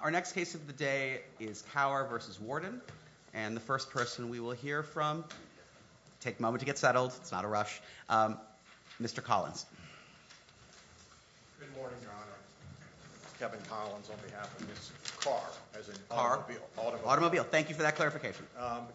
Our next case of the day is Kaur v. Warden, and the first person we will hear from, take a moment to get settled, it's not a rush, Mr. Collins. Good morning, your honor. Kevin Collins on behalf of Ms. Kaur, as in automobile. Automobile. Thank you for that clarification.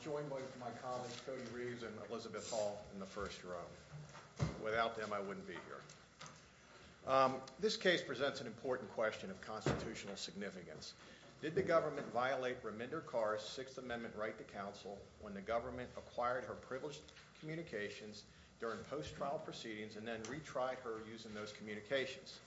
Joined by my colleagues Cody Reeves and Elizabeth Hall in the first row. Without them I wouldn't be here. This case presents an important question of constitutional significance. Did the government violate Raminder Kaur's Sixth Amendment right to counsel when the government acquired her privileged communications during post-trial proceedings and then retried her using those communications?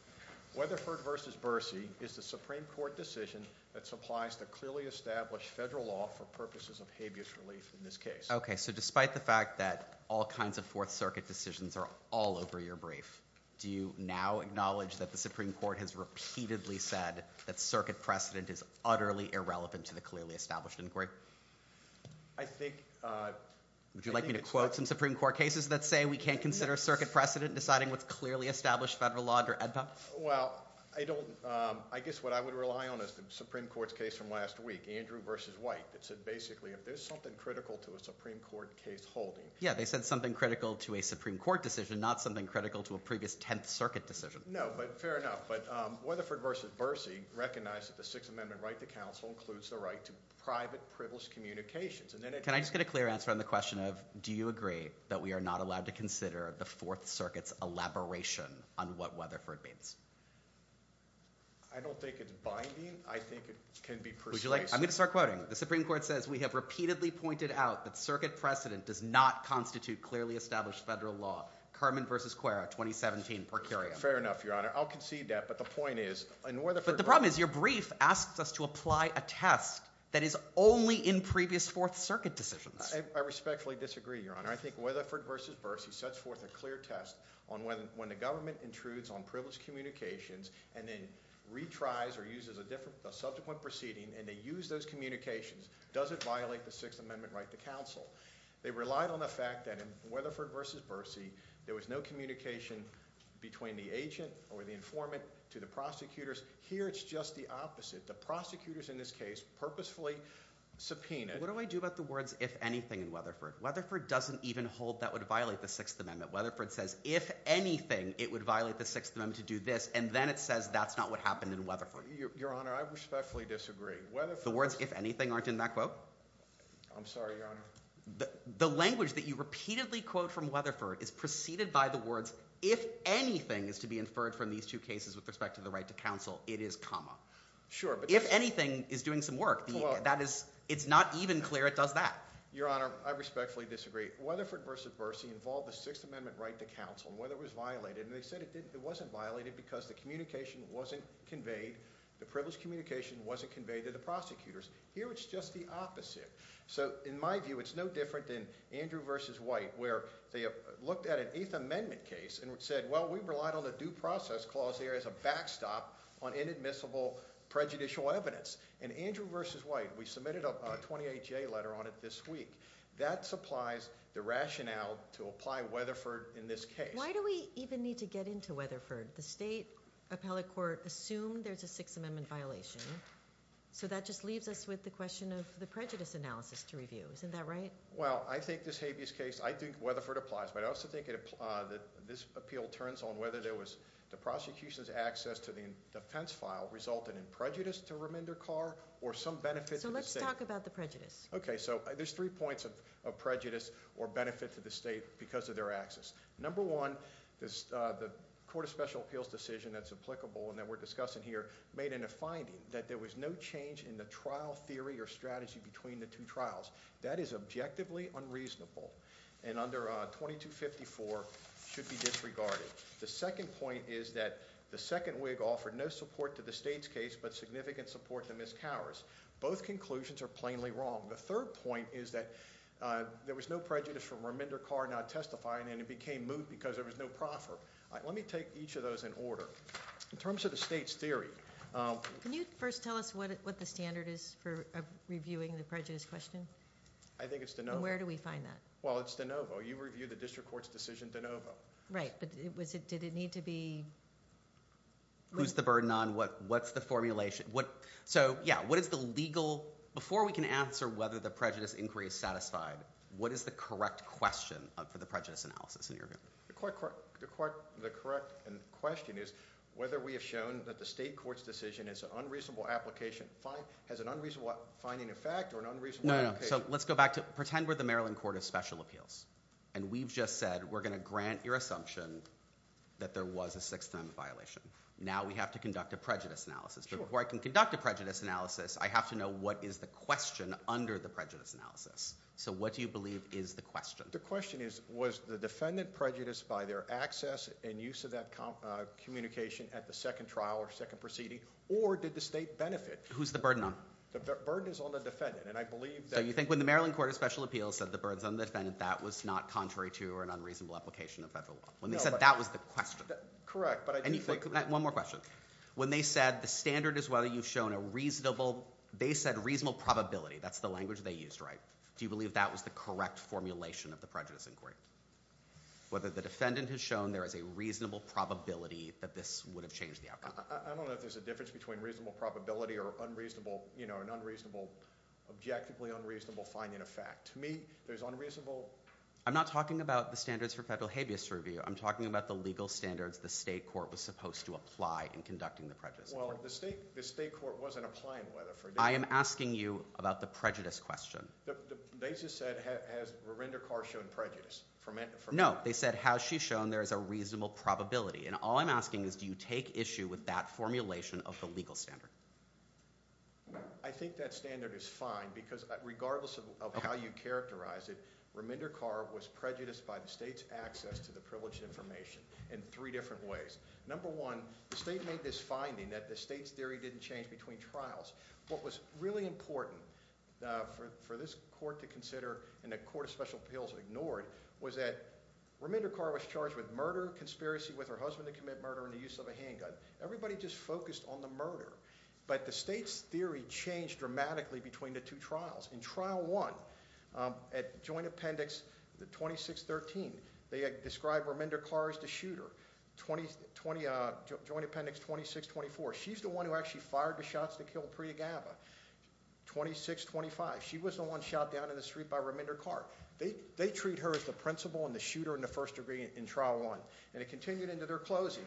Weatherford v. Bercy is the Supreme Court decision that supplies the clearly established federal law for purposes of habeas relief in this case. Okay. So despite the fact that all kinds of Fourth Circuit decisions are all over your brief, do you now acknowledge that the Supreme Court has repeatedly said that circuit precedent is utterly irrelevant to the clearly established inquiry? I think... Would you like me to quote some Supreme Court cases that say we can't consider circuit precedent deciding what's clearly established federal law under EDPA? Well, I guess what I would rely on is the Supreme Court's case from last week, Andrew versus White, that said basically if there's something critical to a Supreme Court case holding... Yeah, they said something critical to a Supreme Court decision, not something critical to a previous Tenth Circuit decision. No, but fair enough. But Weatherford v. Bercy recognized that the Sixth Amendment right to counsel includes the right to private privileged communications. Can I just get a clear answer on the question of do you agree that we are not allowed to consider the Fourth Circuit's elaboration on what Weatherford means? I don't think it's binding. I think it can be precise. Would you like... I'm going to start quoting. The Supreme Court says we have repeatedly pointed out that circuit precedent does not constitute clearly established federal law, Kerman versus Cuerra, 2017, per curiam. Fair enough, Your Honor. I'll concede that, but the point is... But the problem is your brief asks us to apply a test that is only in previous Fourth Circuit decisions. I respectfully disagree, Your Honor. I think Weatherford v. Bercy sets forth a clear test on when the government intrudes on privileged communications and then retries or uses a subsequent proceeding and they use those communications. Does it violate the Sixth Amendment right to counsel? They relied on the fact that in Weatherford v. Bercy there was no communication between the agent or the informant to the prosecutors. Here it's just the opposite. The prosecutors in this case purposefully subpoenaed... What do I do about the words if anything in Weatherford? Weatherford doesn't even hold that would violate the Sixth Amendment. Weatherford says if anything it would violate the Sixth Amendment to do this and then it says that's not what happened in Weatherford. Your Honor, I respectfully disagree. The words if anything aren't in that quote? I'm sorry, Your Honor. The language that you repeatedly quote from Weatherford is preceded by the words if anything is to be inferred from these two cases with respect to the right to counsel, it is comma. Sure, but... If anything is doing some work, it's not even clear it does that. Your Honor, I respectfully disagree. Weatherford v. Bercy involved the Sixth Amendment right to counsel and Weatherford was violated. They said it wasn't violated because the communication wasn't conveyed. The privileged communication wasn't conveyed to the prosecutors. Here it's just the opposite. In my view, it's no different than Andrew v. White where they looked at an Eighth Amendment case and said, well, we relied on the due process clause there as a backstop on inadmissible prejudicial evidence. In Andrew v. White, we submitted a 28-J letter on it this week. That supplies the rationale to apply Weatherford in this case. Why do we even need to get into Weatherford? The state appellate court assumed there's a Sixth Amendment violation. So that just leaves us with the question of the prejudice analysis to review. Isn't that right? Well, I think this habeas case, I think Weatherford applies, but I also think that this appeal turns on whether there was the prosecution's access to the defense file resulted in prejudice to Raminder Kaur or some benefit to the state. So let's talk about the prejudice. Okay. So there's three points of prejudice or benefit to the state because of their access. Number one, the Court of Special Appeals decision that's applicable and that we're discussing here made in a finding that there was no change in the trial theory or strategy between the two trials. That is objectively unreasonable and under 2254 should be disregarded. The second point is that the second WIG offered no support to the state's case but significant support to Ms. Kaur's. Both conclusions are plainly wrong. The third point is that there was no prejudice for Raminder Kaur not testifying and it became moot because there was no proffer. Let me take each of those in order. In terms of the state's theory. Can you first tell us what the standard is for reviewing the prejudice question? I think it's de novo. Where do we find that? Well, it's de novo. You review the district court's decision de novo. Right, but did it need to be… Lose the burden on what's the formulation. So, yeah, what is the legal… Before we can answer whether the prejudice inquiry is satisfied, what is the correct question for the prejudice analysis in your view? The correct question is whether we have shown that the state court's decision is an unreasonable application. Has an unreasonable finding a fact or an unreasonable application? No, no, so let's go back to… Pretend we're the Maryland Court of Special Appeals and we've just said we're going to grant your assumption that there was a sixth time violation. Now we have to conduct a prejudice analysis. But before I can conduct a prejudice analysis, I have to know what is the question under the prejudice analysis. So what do you believe is the question? The question is was the defendant prejudiced by their access and use of that communication at the second trial or second proceeding or did the state benefit? Who's the burden on? The burden is on the defendant, and I believe that… So you think when the Maryland Court of Special Appeals said the burden's on the defendant, that was not contrary to or an unreasonable application of federal law? No, but… When they said that was the question. Correct, but I do think… One more question. When they said the standard is whether you've shown a reasonable… They said reasonable probability. That's the language they used, right? Do you believe that was the correct formulation of the prejudice inquiry? Whether the defendant has shown there is a reasonable probability that this would have changed the outcome. I don't know if there's a difference between reasonable probability or an objectively unreasonable finding of fact. To me, there's unreasonable… I'm not talking about the standards for federal habeas review. I'm talking about the legal standards the state court was supposed to apply in conducting the prejudice inquiry. Well, the state court wasn't applying whether for… I am asking you about the prejudice question. They just said, has Raminder Kaur shown prejudice? No. They said, has she shown there is a reasonable probability? And all I'm asking is, do you take issue with that formulation of the legal standard? I think that standard is fine because regardless of how you characterize it, Raminder Kaur was prejudiced by the state's access to the privileged information in three different ways. Number one, the state made this finding that the state's theory didn't change between trials. What was really important for this court to consider and the Court of Special Appeals ignored was that Raminder Kaur was charged with murder, conspiracy with her husband to commit murder, and the use of a handgun. Everybody just focused on the murder. But the state's theory changed dramatically between the two trials. In Trial 1, at Joint Appendix 2613, they describe Raminder Kaur as the shooter. Joint Appendix 2624, she's the one who actually fired the shots to kill Priya Gabba. 2625, she was the one shot down in the street by Raminder Kaur. They treat her as the principal and the shooter in the first degree in Trial 1, and it continued into their closing.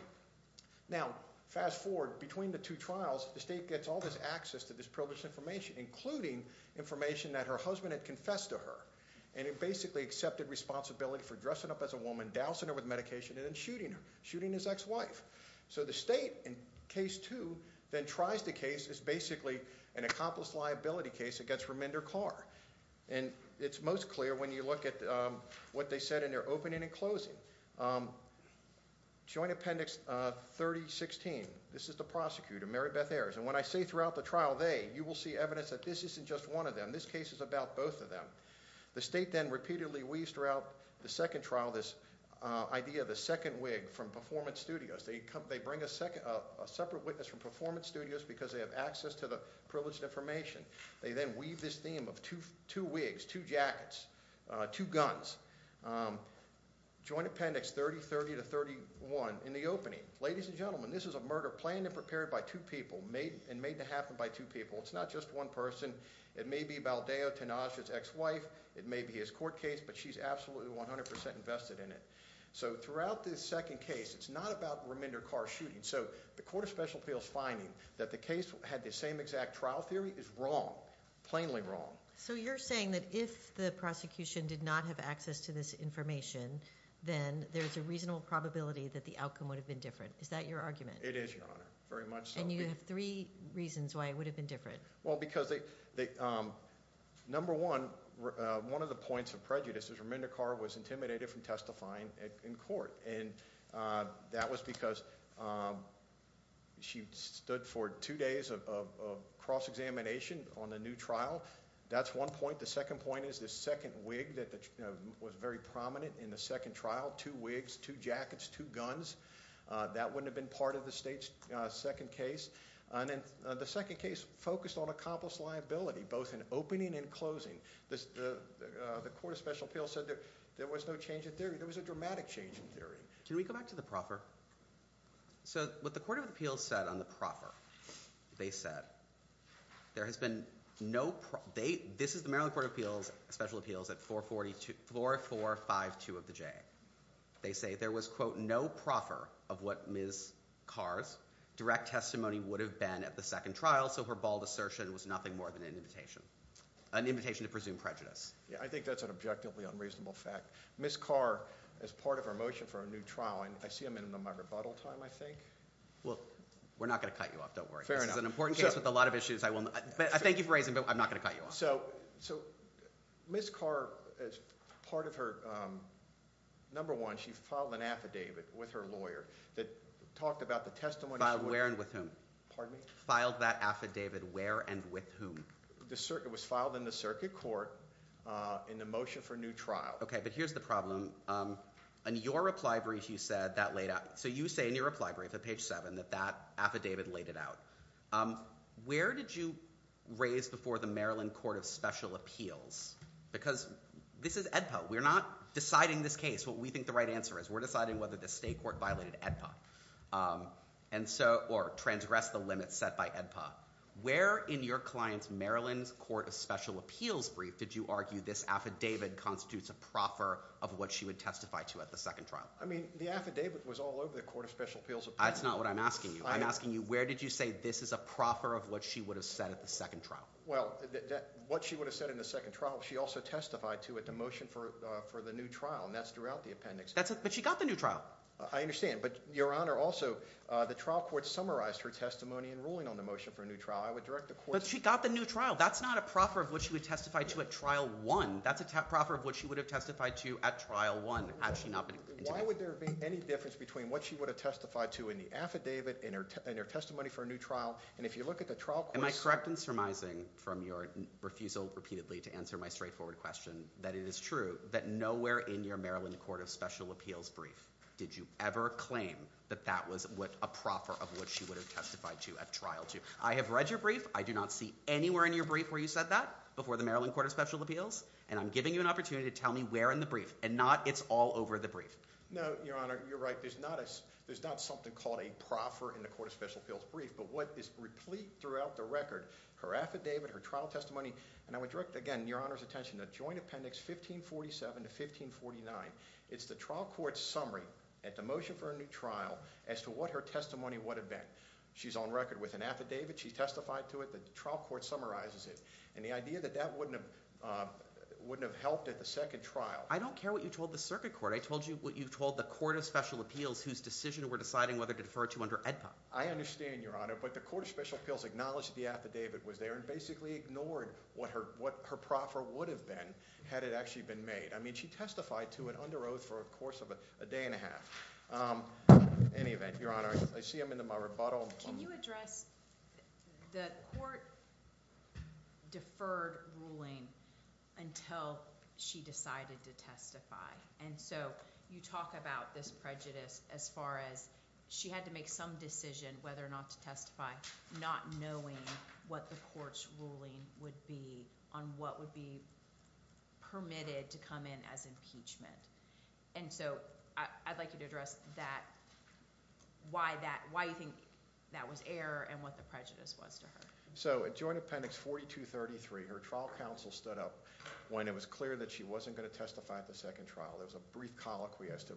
Now, fast forward. Between the two trials, the state gets all this access to this privileged information, including information that her husband had confessed to her, and had basically accepted responsibility for dressing up as a woman, dousing her with medication, and then shooting her, shooting his ex-wife. So the state, in Case 2, then tries the case as basically an accomplice liability case against Raminder Kaur. And it's most clear when you look at what they said in their opening and closing. Joint Appendix 3016, this is the prosecutor, Mary Beth Ayers, and when I say throughout the trial, they, you will see evidence that this isn't just one of them. This case is about both of them. The state then repeatedly weaves throughout the second trial this idea of the second wig from Performance Studios. They bring a separate witness from Performance Studios because they have access to the privileged information. They then weave this theme of two wigs, two jackets, two guns. Joint Appendix 3030 to 3031, in the opening, ladies and gentlemen, this is a murder planned and prepared by two people and made to happen by two people. It's not just one person. It may be Baldeo, Tanaj's ex-wife. It may be his court case, but she's absolutely 100% invested in it. So throughout this second case, it's not about Raminder Kaur shooting. So the Court of Special Appeals finding that the case had the same exact trial theory is wrong, plainly wrong. So you're saying that if the prosecution did not have access to this information, then there's a reasonable probability that the outcome would have been different. Is that your argument? It is, Your Honor, very much so. And you have three reasons why it would have been different. Well, because number one, one of the points of prejudice is Raminder Kaur was intimidated from testifying in court, and that was because she stood for two days of cross-examination on the new trial. That's one point. The second point is this second wig that was very prominent in the second trial, two wigs, two jackets, two guns. That wouldn't have been part of the State's second case. And then the second case focused on accomplice liability, both in opening and closing. The Court of Special Appeals said there was no change in theory. There was a dramatic change in theory. Can we go back to the proffer? So what the Court of Appeals said on the proffer, they said there has been no proffer. This is the Maryland Court of Special Appeals at 4452 of the J. They say there was, quote, no proffer of what Ms. Kaur's direct testimony would have been at the second trial, so her bald assertion was nothing more than an invitation to presume prejudice. I think that's an objectively unreasonable fact. Ms. Kaur, as part of her motion for a new trial, and I see a minute on my rebuttal time, I think. Well, we're not going to cut you off, don't worry. This is an important case with a lot of issues. Thank you for raising it, but I'm not going to cut you off. So Ms. Kaur, as part of her number one, she filed an affidavit with her lawyer that talked about the testimony. Filed where and with whom? Pardon me? Filed that affidavit where and with whom? It was filed in the circuit court in the motion for a new trial. Okay, but here's the problem. In your reply brief, you said that laid out. So you say in your reply brief at page seven that that affidavit laid it out. Where did you raise before the Maryland Court of Special Appeals? Because this is AEDPA. We're not deciding this case, what we think the right answer is. We're deciding whether the state court violated AEDPA or transgressed the limits set by AEDPA. Where in your client's Maryland Court of Special Appeals brief did you argue this affidavit constitutes a proffer of what she would testify to at the second trial? I mean, the affidavit was all over the Court of Special Appeals. That's not what I'm asking you. I'm asking you where did you say this is a proffer of what she would have said at the second trial? Well, what she would have said in the second trial, she also testified to at the motion for the new trial, and that's throughout the appendix. But she got the new trial. I understand. But, Your Honor, also the trial court summarized her testimony in ruling on the motion for a new trial. I would direct the court to that. But she got the new trial. That's not a proffer of what she would testify to at trial one. That's a proffer of what she would have testified to at trial one had she not been intimate. Why would there be any difference between what she would have testified to in the affidavit, in her testimony for a new trial, and if you look at the trial court's… Am I correct in surmising from your refusal repeatedly to answer my straightforward question that it is true that nowhere in your Maryland Court of Special Appeals brief did you ever claim that that was a proffer of what she would have testified to at trial two? I have read your brief. I do not see anywhere in your brief where you said that before the Maryland Court of Special Appeals, and I'm giving you an opportunity to tell me where in the brief and not it's all over the brief. No, Your Honor, you're right. There's not something called a proffer in the Court of Special Appeals brief, but what is replete throughout the record, her affidavit, her trial testimony, and I would direct, again, Your Honor's attention to Joint Appendix 1547 to 1549. It's the trial court's summary at the motion for a new trial as to what her testimony would have been. She's on record with an affidavit. She testified to it. The trial court summarizes it. And the idea that that wouldn't have helped at the second trial… I don't care what you told the circuit court. I told you what you told the Court of Special Appeals whose decision we're deciding whether to defer to under AEDPA. I understand, Your Honor, but the Court of Special Appeals acknowledged the affidavit was there and basically ignored what her proffer would have been had it actually been made. I mean she testified to it under oath for a course of a day and a half. In any event, Your Honor, I see I'm in my rebuttal. Can you address the court deferred ruling until she decided to testify? And so you talk about this prejudice as far as she had to make some decision whether or not to testify not knowing what the court's ruling would be on what would be permitted to come in as impeachment. And so I'd like you to address why you think that was error and what the prejudice was to her. So at Joint Appendix 4233, her trial counsel stood up when it was clear that she wasn't going to testify at the second trial. There was a brief colloquy as to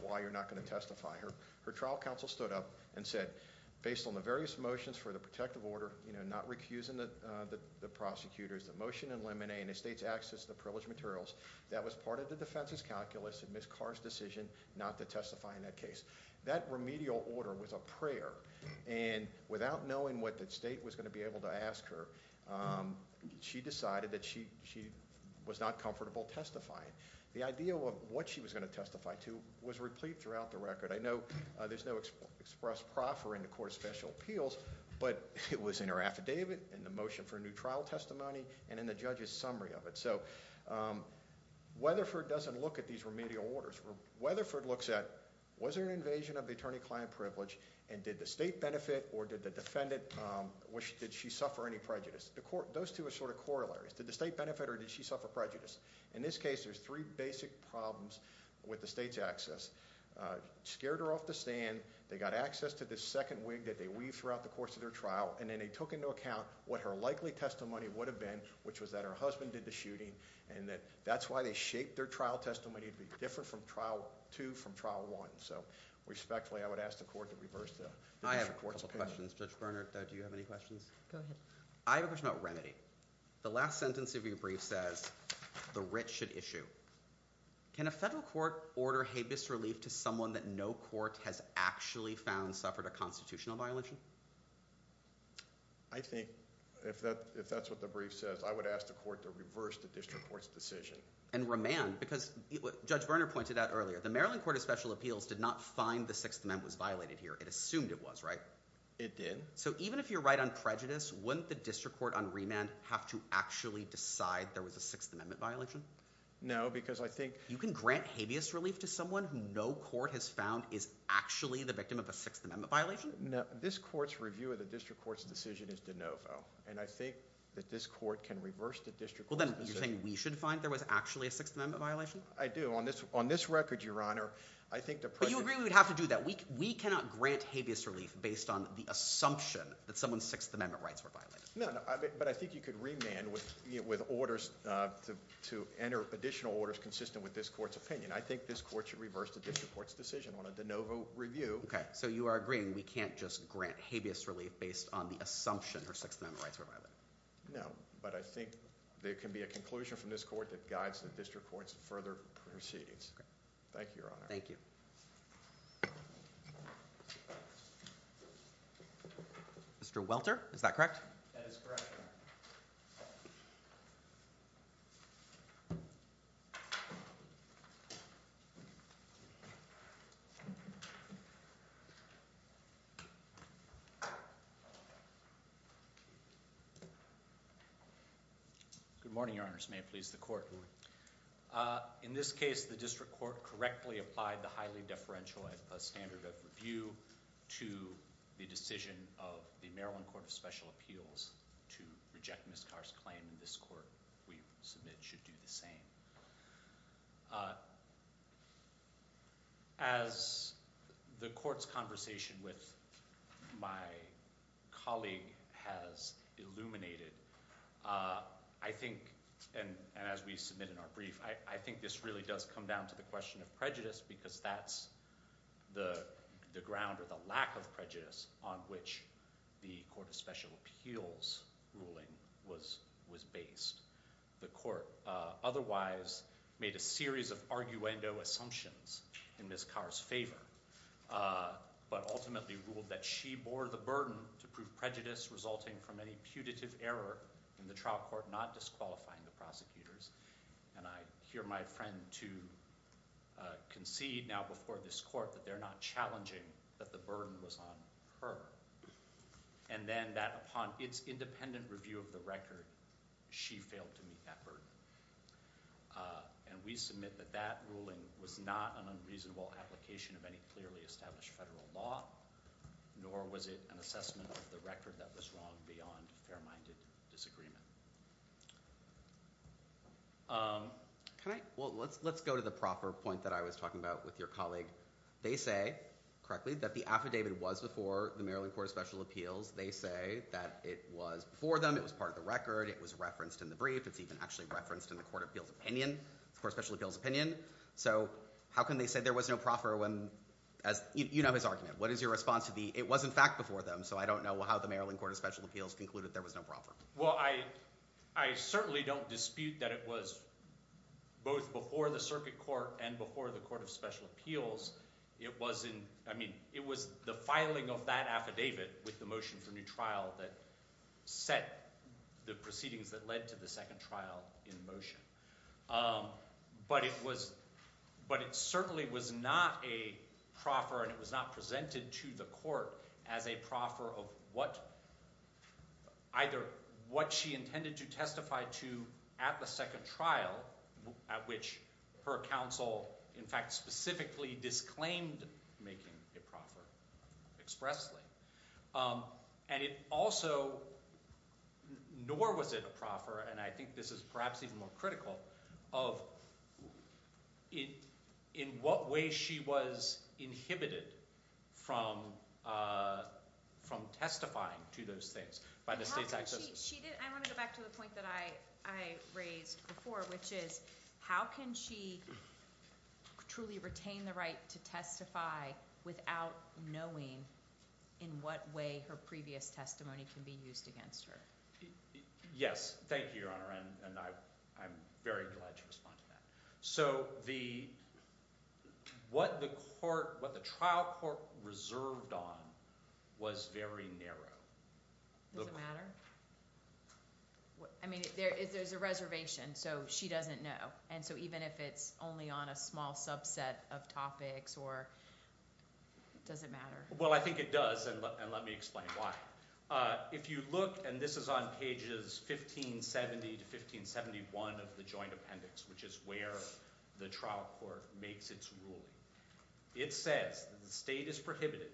why you're not going to testify. Her trial counsel stood up and said, based on the various motions for the protective order, not recusing the prosecutors, the motion in limine and the state's access to the privileged materials, that was part of the defense's calculus and Ms. Carr's decision not to testify in that case. That remedial order was a prayer, and without knowing what the state was going to be able to ask her, she decided that she was not comfortable testifying. The idea of what she was going to testify to was replete throughout the record. I know there's no express proffer in the Court of Special Appeals, but it was in her affidavit, in the motion for a new trial testimony, and in the judge's summary of it. So Weatherford doesn't look at these remedial orders. Weatherford looks at, was there an invasion of the attorney-client privilege, and did the state benefit or did the defendant, did she suffer any prejudice? Those two are sort of corollaries. Did the state benefit or did she suffer prejudice? In this case, there's three basic problems with the state's access. Scared her off the stand, they got access to this second wig that they weaved throughout the course of their trial, and then they took into account what her likely testimony would have been, which was that her husband did the shooting, and that's why they shaped their trial testimony to be different from trial two from trial one. So respectfully, I would ask the Court to reverse the Court's opinion. I have a couple of questions. Judge Berner, do you have any questions? I have a question about remedy. The last sentence of your brief says, the writ should issue. Can a federal court order habeas relief to someone that no court has actually found suffered a constitutional violation? I think if that's what the brief says, I would ask the Court to reverse the district court's decision. And remand, because Judge Berner pointed out earlier, the Maryland Court of Special Appeals did not find the Sixth Amendment was violated here. It assumed it was, right? It did. So even if you're right on prejudice, wouldn't the district court on remand have to actually decide there was a Sixth Amendment violation? No, because I think— You can grant habeas relief to someone who no court has found is actually the victim of a Sixth Amendment violation? No. This court's review of the district court's decision is de novo, and I think that this court can reverse the district court's decision. Well, then you're saying we should find there was actually a Sixth Amendment violation? I do. On this record, Your Honor, I think the President— But you agree we would have to do that. We cannot grant habeas relief based on the assumption that someone's Sixth Amendment rights were violated. No, but I think you could remand with orders to enter additional orders consistent with this court's opinion. I think this court should reverse the district court's decision on a de novo review. OK, so you are agreeing we can't just grant habeas relief based on the assumption her Sixth Amendment rights were violated? No, but I think there can be a conclusion from this court that guides the district court's further proceedings. Thank you, Your Honor. Thank you. Mr. Welter, is that correct? That is correct, Your Honor. Good morning, Your Honors. May it please the Court? In this case, the district court correctly applied the highly deferential standard of review to the decision of the Maryland Court of Special Appeals to reject Ms. Carr's claim. And this court, we submit, should do the same. As the court's conversation with my colleague has illuminated, I think, and as we submit in our brief, I think this really does come down to the question of prejudice because that's the ground or the lack of prejudice on which the Court of Special Appeals ruling was based. The court otherwise made a series of arguendo assumptions in Ms. Carr's favor, but ultimately ruled that she bore the burden to prove prejudice resulting from any putative error in the trial court not disqualifying the prosecutors. And I hear my friend, too, concede now before this court that they're not challenging that the burden was on her. And then that upon its independent review of the record, she failed to meet that burden. And we submit that that ruling was not an unreasonable application of any clearly established federal law, nor was it an assessment of the record that was wrong beyond fair-minded disagreement. Can I – well, let's go to the proffer point that I was talking about with your colleague. They say, correctly, that the affidavit was before the Maryland Court of Special Appeals. They say that it was before them. It was part of the record. It was referenced in the brief. It's even actually referenced in the Court of Appeals opinion, the Court of Special Appeals opinion. So how can they say there was no proffer when – you know his argument. What is your response to the – it was, in fact, before them, so I don't know how the Maryland Court of Special Appeals concluded there was no proffer. Well, I certainly don't dispute that it was both before the circuit court and before the Court of Special Appeals. It was in – I mean it was the filing of that affidavit with the motion for new trial that set the proceedings that led to the second trial in motion. But it was – but it certainly was not a proffer and it was not presented to the court as a proffer of what – either what she intended to testify to at the second trial at which her counsel, in fact, specifically disclaimed making a proffer expressly. And it also – nor was it a proffer, and I think this is perhaps even more critical, of in what way she was inhibited from testifying to those things by the state's accession. She didn't – I want to go back to the point that I raised before, which is how can she truly retain the right to testify without knowing in what way her previous testimony can be used against her? Yes. Thank you, Your Honor, and I'm very glad you responded to that. So the – what the court – what the trial court reserved on was very narrow. Does it matter? I mean there's a reservation, so she doesn't know, and so even if it's only on a small subset of topics or – does it matter? Well, I think it does, and let me explain why. If you look – and this is on pages 1570 to 1571 of the joint appendix, which is where the trial court makes its ruling. It says that the state is prohibited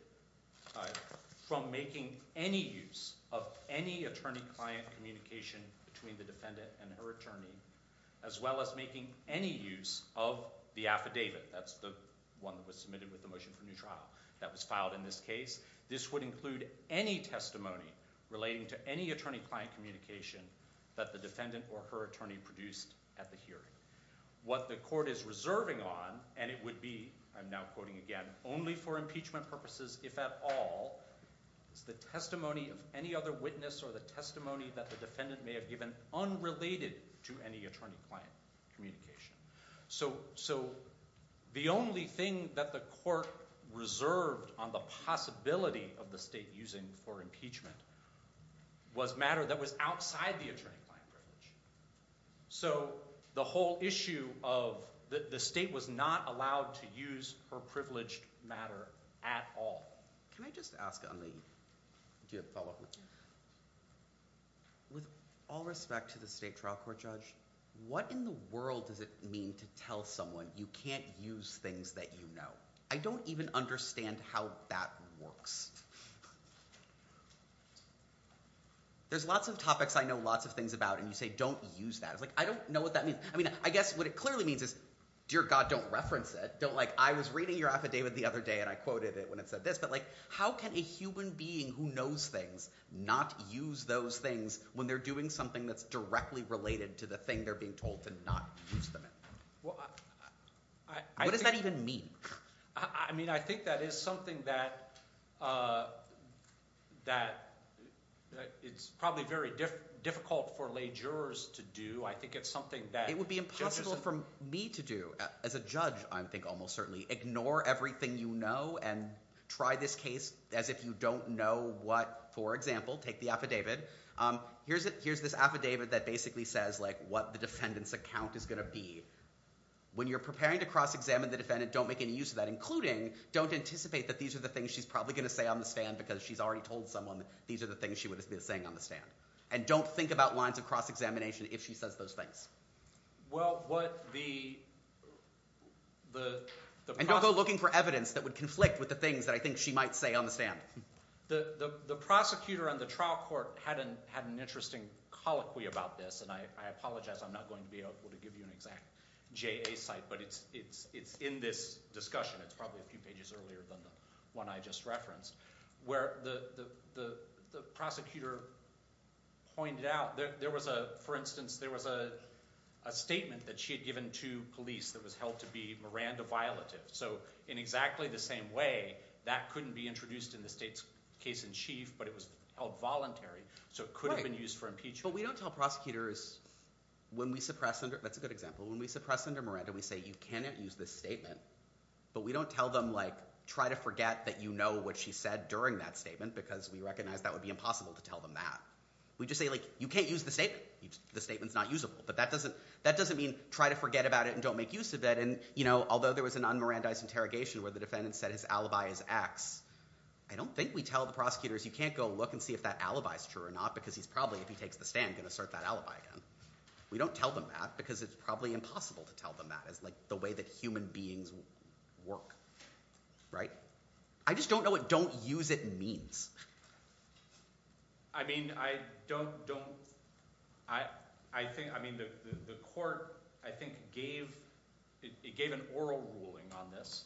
from making any use of any attorney-client communication between the defendant and her attorney, as well as making any use of the affidavit. That's the one that was submitted with the motion for new trial that was filed in this case. This would include any testimony relating to any attorney-client communication that the defendant or her attorney produced at the hearing. What the court is reserving on, and it would be – I'm now quoting again – only for impeachment purposes, if at all, is the testimony of any other witness or the testimony that the defendant may have given unrelated to any attorney-client communication. So the only thing that the court reserved on the possibility of the state using for impeachment was matter that was outside the attorney-client privilege. So the whole issue of – the state was not allowed to use her privileged matter at all. Can I just ask on the – do you have a follow-up? With all respect to the state trial court judge, what in the world does it mean to tell someone you can't use things that you know? I don't even understand how that works. There's lots of topics I know lots of things about, and you say, don't use that. I don't know what that means. I guess what it clearly means is, dear God, don't reference it. I was reading your affidavit the other day, and I quoted it when it said this, but how can a human being who knows things not use those things when they're doing something that's directly related to the thing they're being told to not use them in? What does that even mean? I mean I think that is something that it's probably very difficult for lay jurors to do. I think it's something that judges – ignore everything you know and try this case as if you don't know what – for example, take the affidavit. Here's this affidavit that basically says what the defendant's account is going to be. When you're preparing to cross-examine the defendant, don't make any use of that, including don't anticipate that these are the things she's probably going to say on the stand because she's already told someone these are the things she would be saying on the stand. And don't think about lines of cross-examination if she says those things. Well, what the – And don't go looking for evidence that would conflict with the things that I think she might say on the stand. The prosecutor and the trial court had an interesting colloquy about this, and I apologize. I'm not going to be able to give you an exact JA site, but it's in this discussion. It's probably a few pages earlier than the one I just referenced where the prosecutor pointed out. There was a – for instance, there was a statement that she had given to police that was held to be Miranda violative. So in exactly the same way, that couldn't be introduced in the state's case-in-chief, but it was held voluntary, so it could have been used for impeachment. But we don't tell prosecutors when we suppress – that's a good example. When we suppress Senator Miranda, we say you cannot use this statement, but we don't tell them, like, try to forget that you know what she said during that statement because we recognize that would be impossible to tell them that. We just say, like, you can't use the statement. The statement's not usable, but that doesn't mean try to forget about it and don't make use of it. And although there was an un-Miranda-ized interrogation where the defendant said his alibi is X, I don't think we tell the prosecutors you can't go look and see if that alibi is true or not because he's probably, if he takes the stand, going to assert that alibi again. We don't tell them that because it's probably impossible to tell them that is, like, the way that human beings work, right? I just don't know what don't use it means. I mean, I don't – I think – I mean, the court, I think, gave – it gave an oral ruling on this,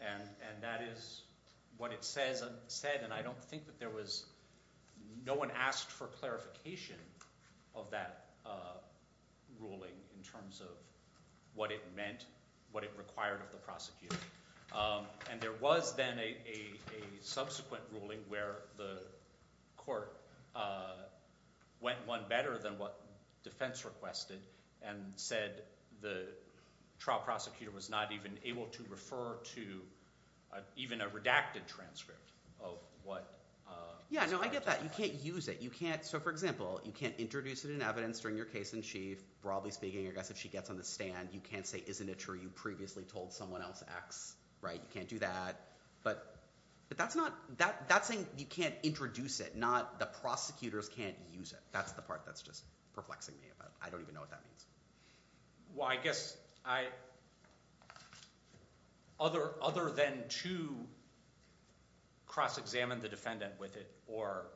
and that is what it says and said, and I don't think that there was – no one asked for clarification of that ruling in terms of what it meant, what it required of the prosecutor. And there was then a subsequent ruling where the court went one better than what defense requested and said the trial prosecutor was not even able to refer to even a redacted transcript of what – Yeah, no, I get that. You can't use it. You can't – so for example, you can't introduce it in evidence during your case in chief. Broadly speaking, I guess if she gets on the stand, you can't say, isn't it true you previously told someone else X, right? You can't do that. But that's not – that's saying you can't introduce it, not the prosecutors can't use it. That's the part that's just perplexing me. I don't even know what that means. Well, I guess I – other than to cross-examine the defendant with it or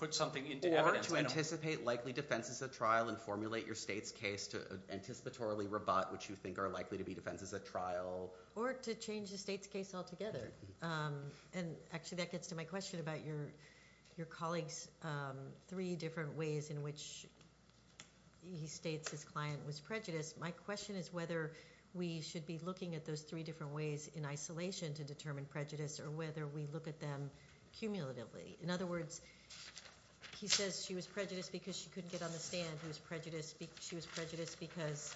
put something into evidence. Or to anticipate likely defenses at trial and formulate your state's case to anticipatorily rebut what you think are likely to be defenses at trial. Or to change the state's case altogether. And actually, that gets to my question about your colleague's three different ways in which he states his client was prejudiced. My question is whether we should be looking at those three different ways in isolation to determine prejudice or whether we look at them cumulatively. In other words, he says she was prejudiced because she couldn't get on the stand. He was prejudiced – she was prejudiced because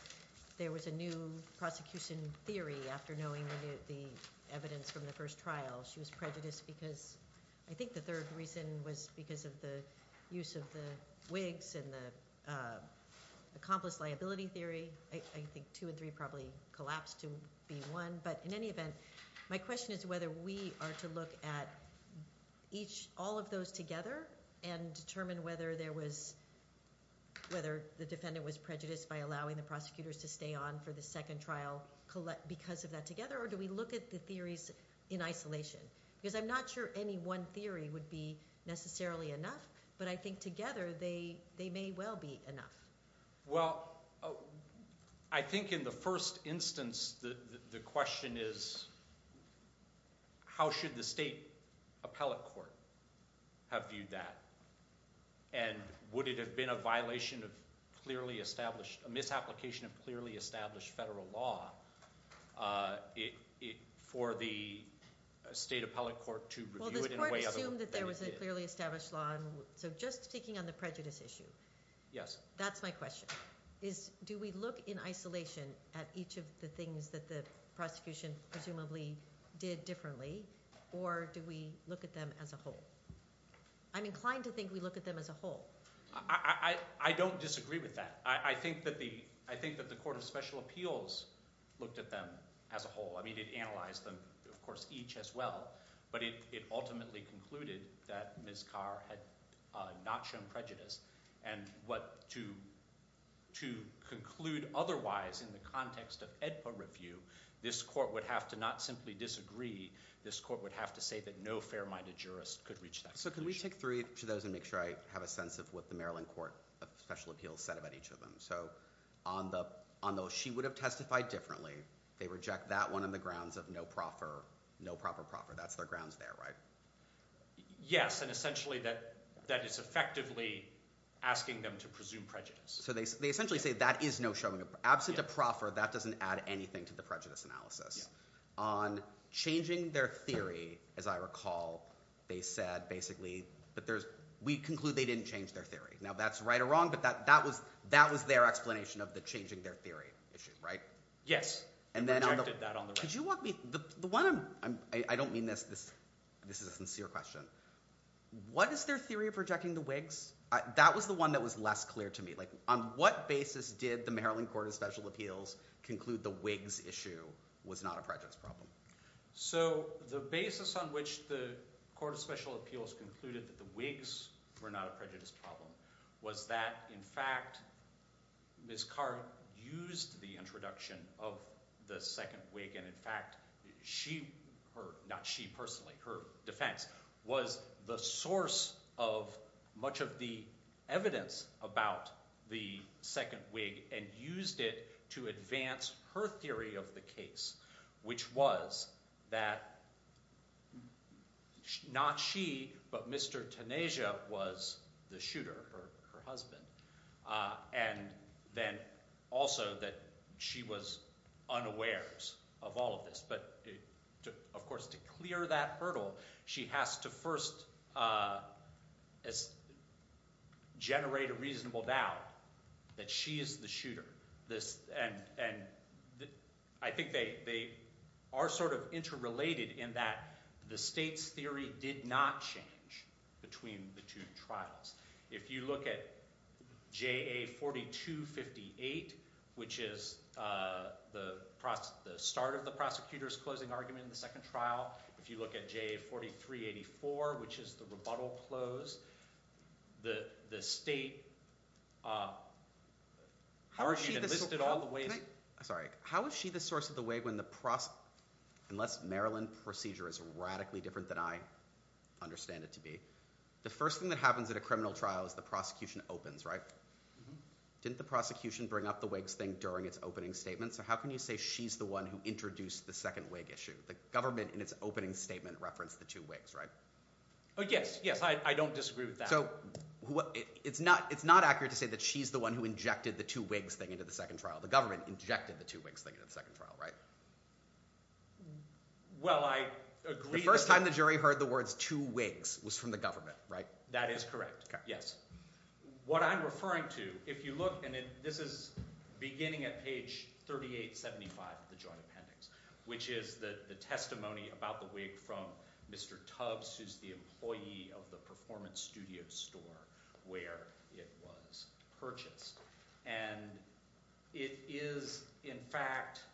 there was a new prosecution theory after knowing the evidence from the first trial. She was prejudiced because – I think the third reason was because of the use of the wigs and the accomplice liability theory. I think two and three probably collapsed to be one. But in any event, my question is whether we are to look at each – all of those together and determine whether there was – whether the defendant was prejudiced by allowing the prosecutors to stay on for the second trial because of that together. Or do we look at the theories in isolation? Because I'm not sure any one theory would be necessarily enough, but I think together they may well be enough. Well, I think in the first instance the question is how should the state appellate court have viewed that? And would it have been a violation of clearly established – a misapplication of clearly established federal law for the state appellate court to review it in a way other than what they did? Well, the court assumed that there was a clearly established law, so just speaking on the prejudice issue. Yes. That's my question is do we look in isolation at each of the things that the prosecution presumably did differently or do we look at them as a whole? I'm inclined to think we look at them as a whole. I don't disagree with that. I think that the court of special appeals looked at them as a whole. I mean it analyzed them, of course, each as well, but it ultimately concluded that Ms. Carr had not shown prejudice. And what – to conclude otherwise in the context of AEDPA review, this court would have to not simply disagree. This court would have to say that no fair-minded jurist could reach that conclusion. So can we take three to those and make sure I have a sense of what the Maryland Court of Special Appeals said about each of them? So on those she would have testified differently, they reject that one on the grounds of no proper proffer. That's their grounds there, right? Yes, and essentially that is effectively asking them to presume prejudice. So they essentially say that is no showing. Absent a proffer, that doesn't add anything to the prejudice analysis. On changing their theory, as I recall, they said basically that there's – we conclude they didn't change their theory. Now that's right or wrong, but that was their explanation of the changing their theory issue, right? Yes. And then – They rejected that on the – Could you walk me – the one – I don't mean this. This is a sincere question. What is their theory of rejecting the Whigs? That was the one that was less clear to me. Like on what basis did the Maryland Court of Special Appeals conclude the Whigs issue was not a prejudice problem? So the basis on which the Court of Special Appeals concluded that the Whigs were not a prejudice problem was that in fact Ms. Carr used the introduction of the second Whig and in fact she – not she personally, her defense – was the source of much of the evidence about the second Whig and used it to advance her theory of the case, which was that not she, but Mr. Taneja was the shooter, her husband, and then also that she was unaware of all of this. But of course to clear that hurdle, she has to first generate a reasonable doubt that she is the shooter. And I think they are sort of interrelated in that the state's theory did not change between the two trials. If you look at JA 4258, which is the start of the prosecutor's closing argument in the second trial. If you look at JA 4384, which is the rebuttal close, the state argued and listed all the ways – Sorry. How is she the source of the Whig when the – unless Maryland procedure is radically different than I understand it to be. The first thing that happens at a criminal trial is the prosecution opens, right? Didn't the prosecution bring up the Whigs thing during its opening statement? So how can you say she's the one who introduced the second Whig issue? The government in its opening statement referenced the two Whigs, right? Yes, yes. I don't disagree with that. So it's not accurate to say that she's the one who injected the two Whigs thing into the second trial. The government injected the two Whigs thing into the second trial, right? Well, I agree – The first time the jury heard the words two Whigs was from the government, right? That is correct, yes. What I'm referring to, if you look – and this is beginning at page 3875 of the Joint Appendix, which is the testimony about the Whig from Mr. Tubbs, who's the employee of the performance studio store where it was purchased. And it is, in fact –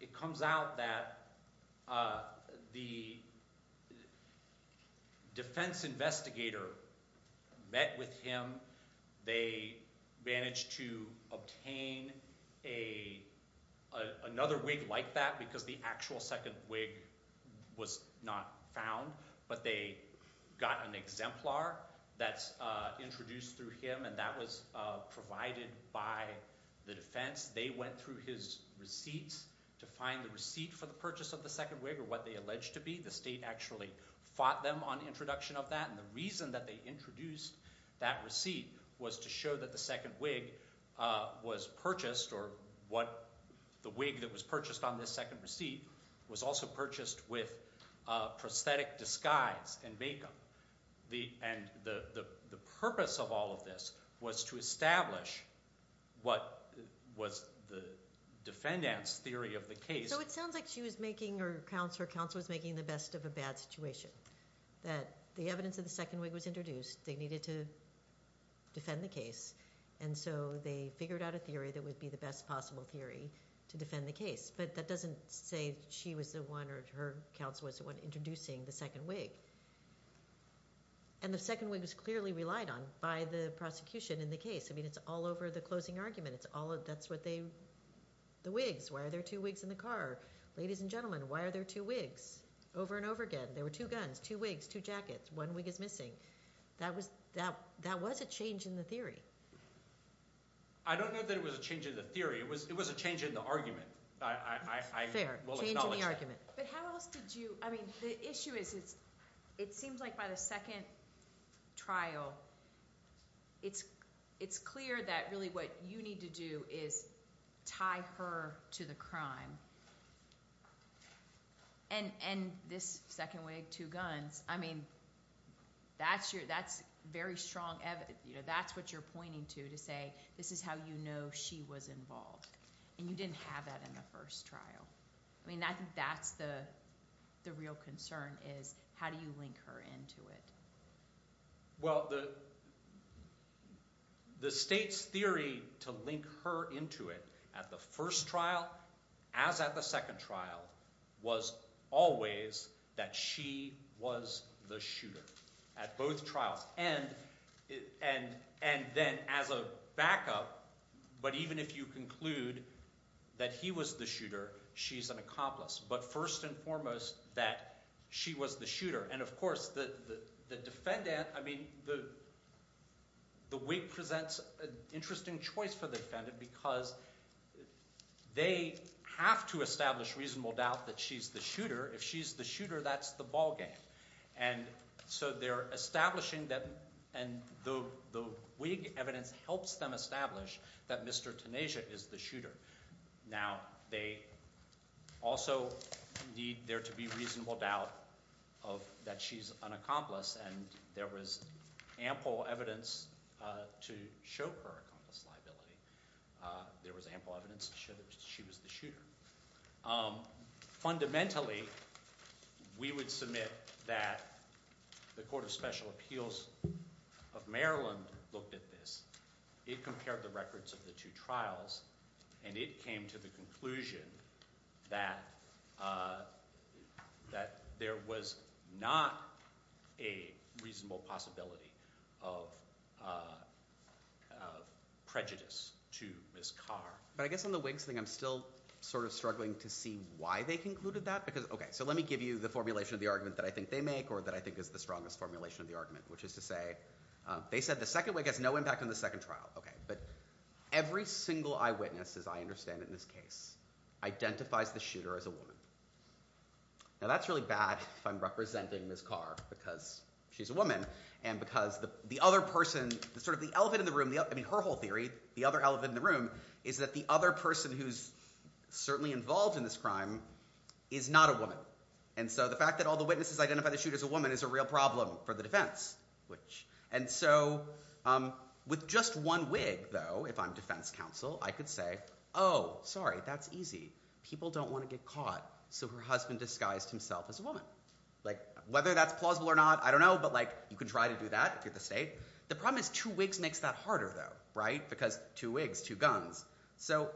it comes out that the defense investigator met with him. They managed to obtain another Whig like that because the actual second Whig was not found. But they got an exemplar that's introduced through him, and that was provided by the defense. They went through his receipts to find the receipt for the purchase of the second Whig or what they alleged to be. The state actually fought them on introduction of that. And the reason that they introduced that receipt was to show that the second Whig was purchased or what the Whig that was purchased on this second receipt was also purchased with prosthetic disguise and makeup. And the purpose of all of this was to establish what was the defendant's theory of the case. So it sounds like she was making – or her counselor was making the best of a bad situation, that the evidence of the second Whig was introduced. They needed to defend the case, and so they figured out a theory that would be the best possible theory to defend the case. But that doesn't say she was the one or her counselor was the one introducing the second Whig. And the second Whig was clearly relied on by the prosecution in the case. I mean, it's all over the closing argument. It's all – that's what they – the Whigs. Why are there two Whigs in the car? Ladies and gentlemen, why are there two Whigs? Over and over again, there were two guns, two Whigs, two jackets. One Whig is missing. That was a change in the theory. I don't know that it was a change in the theory. It was a change in the argument. Fair. Change in the argument. But how else did you – I mean the issue is it seems like by the second trial, it's clear that really what you need to do is tie her to the crime. And this second Whig, two guns, I mean that's very strong evidence. That's what you're pointing to to say this is how you know she was involved. And you didn't have that in the first trial. I mean I think that's the real concern is how do you link her into it? Well, the state's theory to link her into it at the first trial as at the second trial was always that she was the shooter at both trials. And then as a backup, but even if you conclude that he was the shooter, she's an accomplice. But first and foremost, that she was the shooter. And, of course, the defendant – I mean the Whig presents an interesting choice for the defendant because they have to establish reasonable doubt that she's the shooter. If she's the shooter, that's the ballgame. And so they're establishing that – and the Whig evidence helps them establish that Mr. Taneja is the shooter. Now, they also need there to be reasonable doubt that she's an accomplice, and there was ample evidence to show her accomplice liability. There was ample evidence to show that she was the shooter. Fundamentally, we would submit that the Court of Special Appeals of Maryland looked at this. It compared the records of the two trials, and it came to the conclusion that there was not a reasonable possibility of prejudice to Ms. Carr. But I guess on the Whigs thing, I'm still sort of struggling to see why they concluded that because – okay, so let me give you the formulation of the argument that I think they make or that I think is the strongest formulation of the argument, which is to say they said the second Whig has no impact on the second trial. Okay, but every single eyewitness, as I understand it in this case, identifies the shooter as a woman. Now, that's really bad if I'm representing Ms. Carr because she's a woman and because the other person – sort of the elephant in the room – I mean her whole theory, the other elephant in the room, is that the other person who's certainly involved in this crime is not a woman. And so the fact that all the witnesses identify the shooter as a woman is a real problem for the defense. And so with just one Whig, though, if I'm defense counsel, I could say, oh, sorry, that's easy. People don't want to get caught, so her husband disguised himself as a woman. Whether that's plausible or not, I don't know, but you could try to do that if you're the state. The problem is two Whigs makes that harder, though, right? Because two Whigs, two guns. So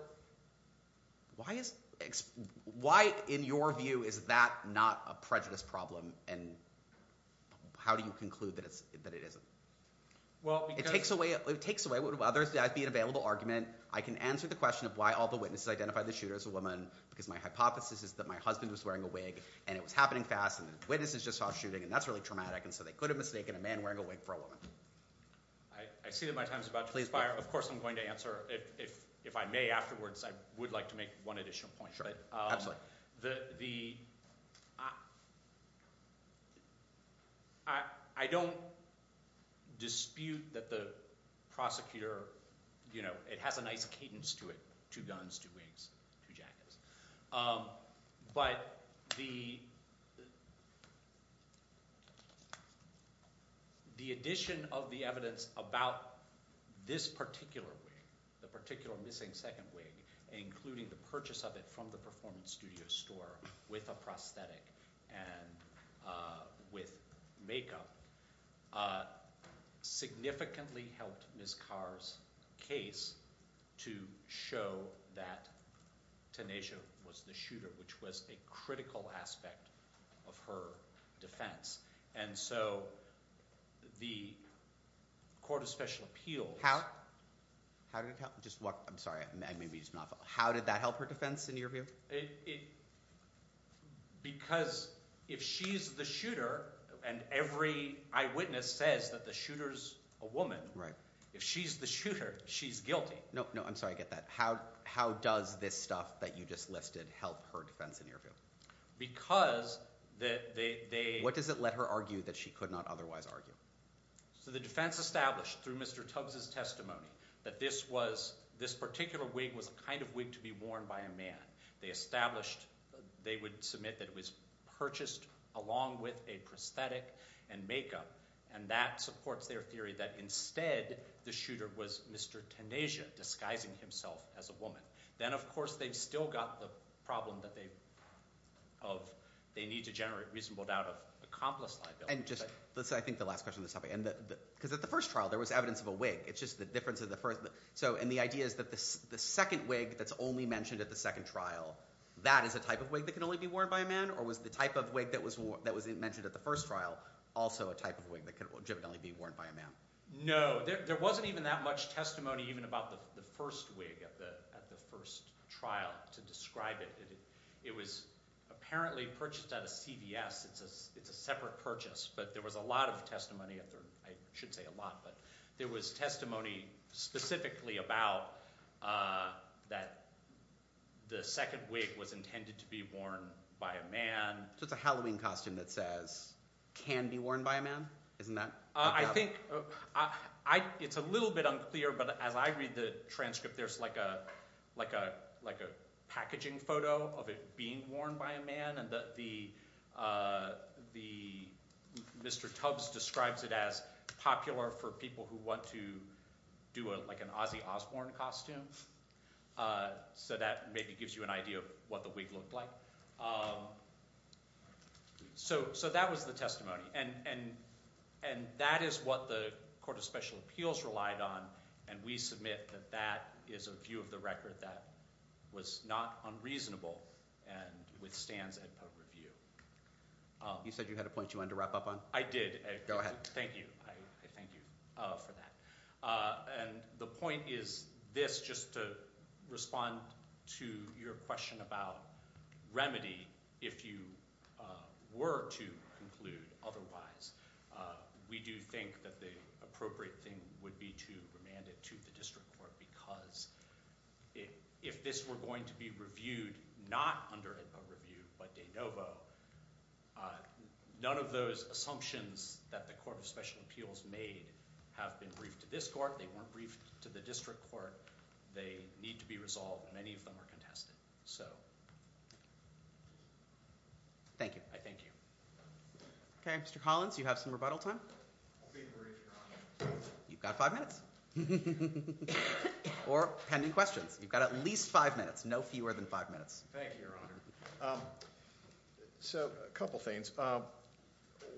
why, in your view, is that not a prejudice problem, and how do you conclude that it isn't? Well, because – It takes away – while there would be an available argument, I can answer the question of why all the witnesses identify the shooter as a woman because my hypothesis is that my husband was wearing a wig, and it was happening fast, and the witnesses just saw shooting, and that's really traumatic, and so they could have mistaken a man wearing a wig for a woman. I see that my time is about to expire. Of course, I'm going to answer – if I may afterwards, I would like to make one additional point. Sure, absolutely. The – I don't dispute that the prosecutor – it has a nice cadence to it, two guns, two Whigs, two jackets. But the addition of the evidence about this particular wig, the particular missing second wig, including the purchase of it from the performance studio store with a prosthetic and with makeup, significantly helped Ms. Carr's case to show that Taneja was the shooter, which was a critical aspect of her defense. And so the Court of Special Appeal – How did it help? Just walk – I'm sorry. I may be just not – how did that help her defense, in your view? Because if she's the shooter, and every eyewitness says that the shooter's a woman, if she's the shooter, she's guilty. No, no. I'm sorry. I get that. How does this stuff that you just listed help her defense, in your view? Because they – What does it let her argue that she could not otherwise argue? So the defense established through Mr. Tubbs' testimony that this was – this particular wig was the kind of wig to be worn by a man. They established – they would submit that it was purchased along with a prosthetic and makeup. And that supports their theory that, instead, the shooter was Mr. Taneja, disguising himself as a woman. Then, of course, they've still got the problem that they need to generate reasonable doubt of accomplice liability. And just – let's say, I think, the last question on this topic. Because at the first trial, there was evidence of a wig. It's just the difference of the first – And the idea is that the second wig that's only mentioned at the second trial, that is a type of wig that can only be worn by a man? Or was the type of wig that was mentioned at the first trial also a type of wig that could legitimately be worn by a man? No. There wasn't even that much testimony even about the first wig at the first trial to describe it. It was apparently purchased at a CVS. It's a separate purchase. But there was a lot of testimony – I shouldn't say a lot, but there was testimony specifically about that the second wig was intended to be worn by a man. So it's a Halloween costume that says, can be worn by a man? Isn't that the problem? I think – it's a little bit unclear, but as I read the transcript, there's like a packaging photo of it being worn by a man. And Mr. Tubbs describes it as popular for people who want to do like an Ozzy Osbourne costume. So that maybe gives you an idea of what the wig looked like. So that was the testimony, and that is what the Court of Special Appeals relied on. And we submit that that is a view of the record that was not unreasonable and withstands EdPub review. You said you had a point you wanted to wrap up on? I did. Go ahead. Thank you. I thank you for that. And the point is this, just to respond to your question about remedy, if you were to conclude otherwise. We do think that the appropriate thing would be to remand it to the district court because if this were going to be reviewed not under EdPub review but de novo, none of those assumptions that the Court of Special Appeals made have been briefed to this court. They weren't briefed to the district court. They need to be resolved, and many of them are contested. Thank you. I thank you. Okay. Mr. Collins, you have some rebuttal time? I'll be brief, Your Honor. You've got five minutes. Or pending questions. You've got at least five minutes, no fewer than five minutes. Thank you, Your Honor. So a couple of things.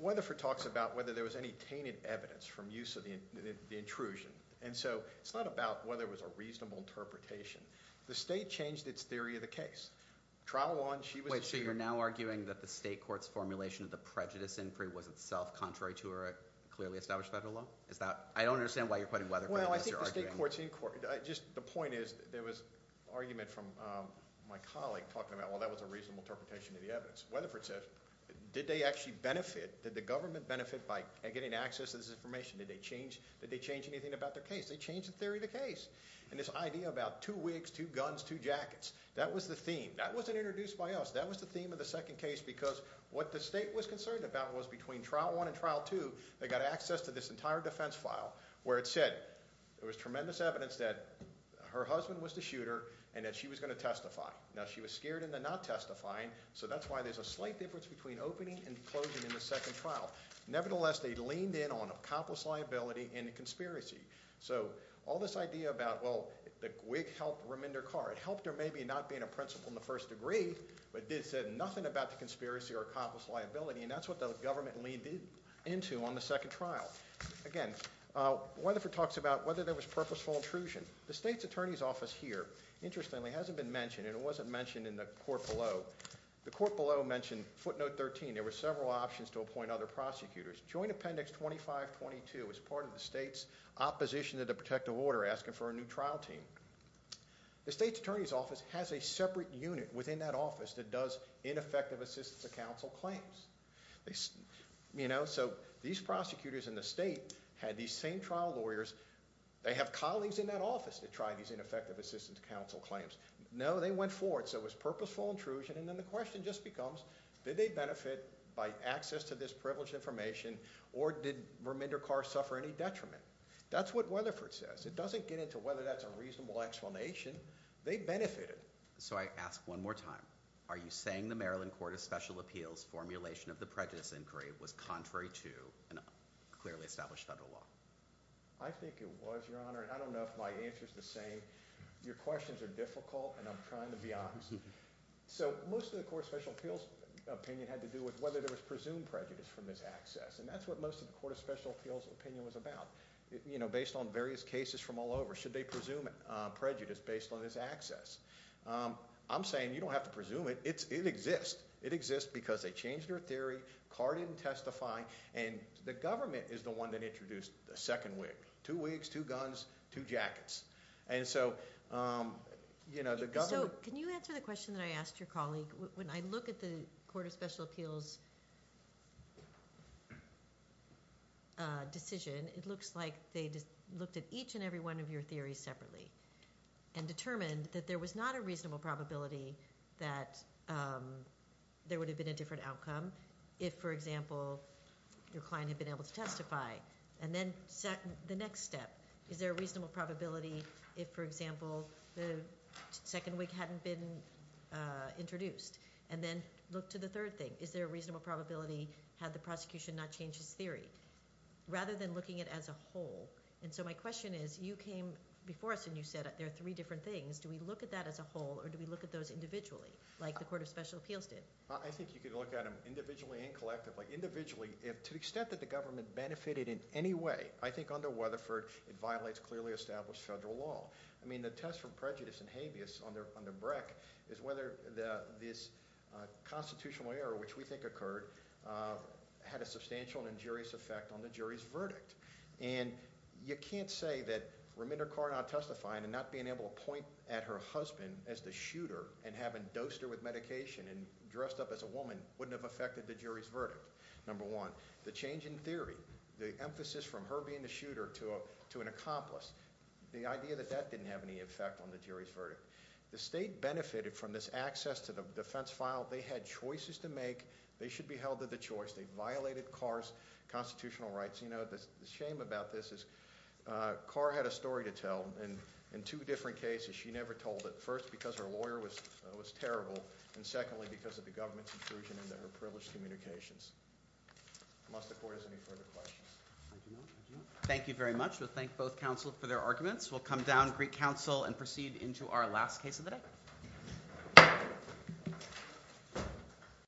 Weatherford talks about whether there was any tainted evidence from use of the intrusion. And so it's not about whether it was a reasonable interpretation. The state changed its theory of the case. Trial one, she was- Wait, so you're now arguing that the state court's formulation of the prejudice inquiry was itself contrary to a clearly established federal law? I don't understand why you're quoting Weatherford. Well, I think the state court's- Just the point is there was argument from my colleague talking about, well, that was a reasonable interpretation of the evidence. Weatherford says, did they actually benefit, did the government benefit by getting access to this information? Did they change anything about their case? They changed the theory of the case. And this idea about two wigs, two guns, two jackets, that was the theme. That wasn't introduced by us. That was the theme of the second case because what the state was concerned about was between trial one and trial two, they got access to this entire defense file where it said there was tremendous evidence that her husband was the shooter and that she was going to testify. Now, she was scared in the not testifying, so that's why there's a slight difference between opening and closing in the second trial. Nevertheless, they leaned in on accomplice liability and conspiracy. So all this idea about, well, the wig helped remender Carr. It helped her maybe not being a principal in the first degree, but it said nothing about the conspiracy or accomplice liability. And that's what the government leaned into on the second trial. Again, Weatherford talks about whether there was purposeful intrusion. The state's attorney's office here, interestingly, hasn't been mentioned, and it wasn't mentioned in the court below. The court below mentioned footnote 13, there were several options to appoint other prosecutors. Joint appendix 2522 is part of the state's opposition to the protective order asking for a new trial team. The state's attorney's office has a separate unit within that office that does ineffective assistance to counsel claims. So these prosecutors in the state had these same trial lawyers. They have colleagues in that office to try these ineffective assistance to counsel claims. No, they went forward, so it was purposeful intrusion, and then the question just becomes, did they benefit by access to this privileged information, or did remender Carr suffer any detriment? That's what Weatherford says. It doesn't get into whether that's a reasonable explanation. They benefited. So I ask one more time. Are you saying the Maryland Court of Special Appeals formulation of the prejudice inquiry was contrary to a clearly established federal law? I think it was, Your Honor, and I don't know if my answer is the same. Your questions are difficult, and I'm trying to be honest. So most of the Court of Special Appeals opinion had to do with whether there was presumed prejudice from this access, and that's what most of the Court of Special Appeals opinion was about, based on various cases from all over. Should they presume prejudice based on this access? I'm saying you don't have to presume it. It exists. It exists because they changed their theory, Carr didn't testify, and the government is the one that introduced the second wig. Two wigs, two guns, two jackets. So can you answer the question that I asked your colleague? When I look at the Court of Special Appeals decision, it looks like they looked at each and every one of your theories separately and determined that there was not a reasonable probability that there would have been a different outcome if, for example, your client had been able to testify. And then the next step, is there a reasonable probability if, for example, the second wig hadn't been introduced? And then look to the third thing. Is there a reasonable probability had the prosecution not changed its theory, rather than looking at it as a whole? And so my question is, you came before us and you said there are three different things. Do we look at that as a whole, or do we look at those individually, like the Court of Special Appeals did? I think you could look at them individually and collectively. Individually, to the extent that the government benefited in any way, I think under Weatherford, it violates clearly established federal law. I mean, the test for prejudice and habeas under Breck is whether this constitutional error, which we think occurred, had a substantial and injurious effect on the jury's verdict. And you can't say that Raminder Kaur not testifying and not being able to point at her husband as the shooter and having dosed her with medication and dressed up as a woman wouldn't have affected the jury's verdict. Number one, the change in theory, the emphasis from her being the shooter to an accomplice, the idea that that didn't have any effect on the jury's verdict. The state benefited from this access to the defense file. They had choices to make. They should be held to the choice. They violated Kaur's constitutional rights. You know, the shame about this is Kaur had a story to tell in two different cases. She never told it, first because her lawyer was terrible, and secondly because of the government's intrusion into her privileged communications. Unless the Court has any further questions. Thank you very much. We'll thank both counsel for their arguments. We'll come down to Greek counsel and proceed into our last case of the day.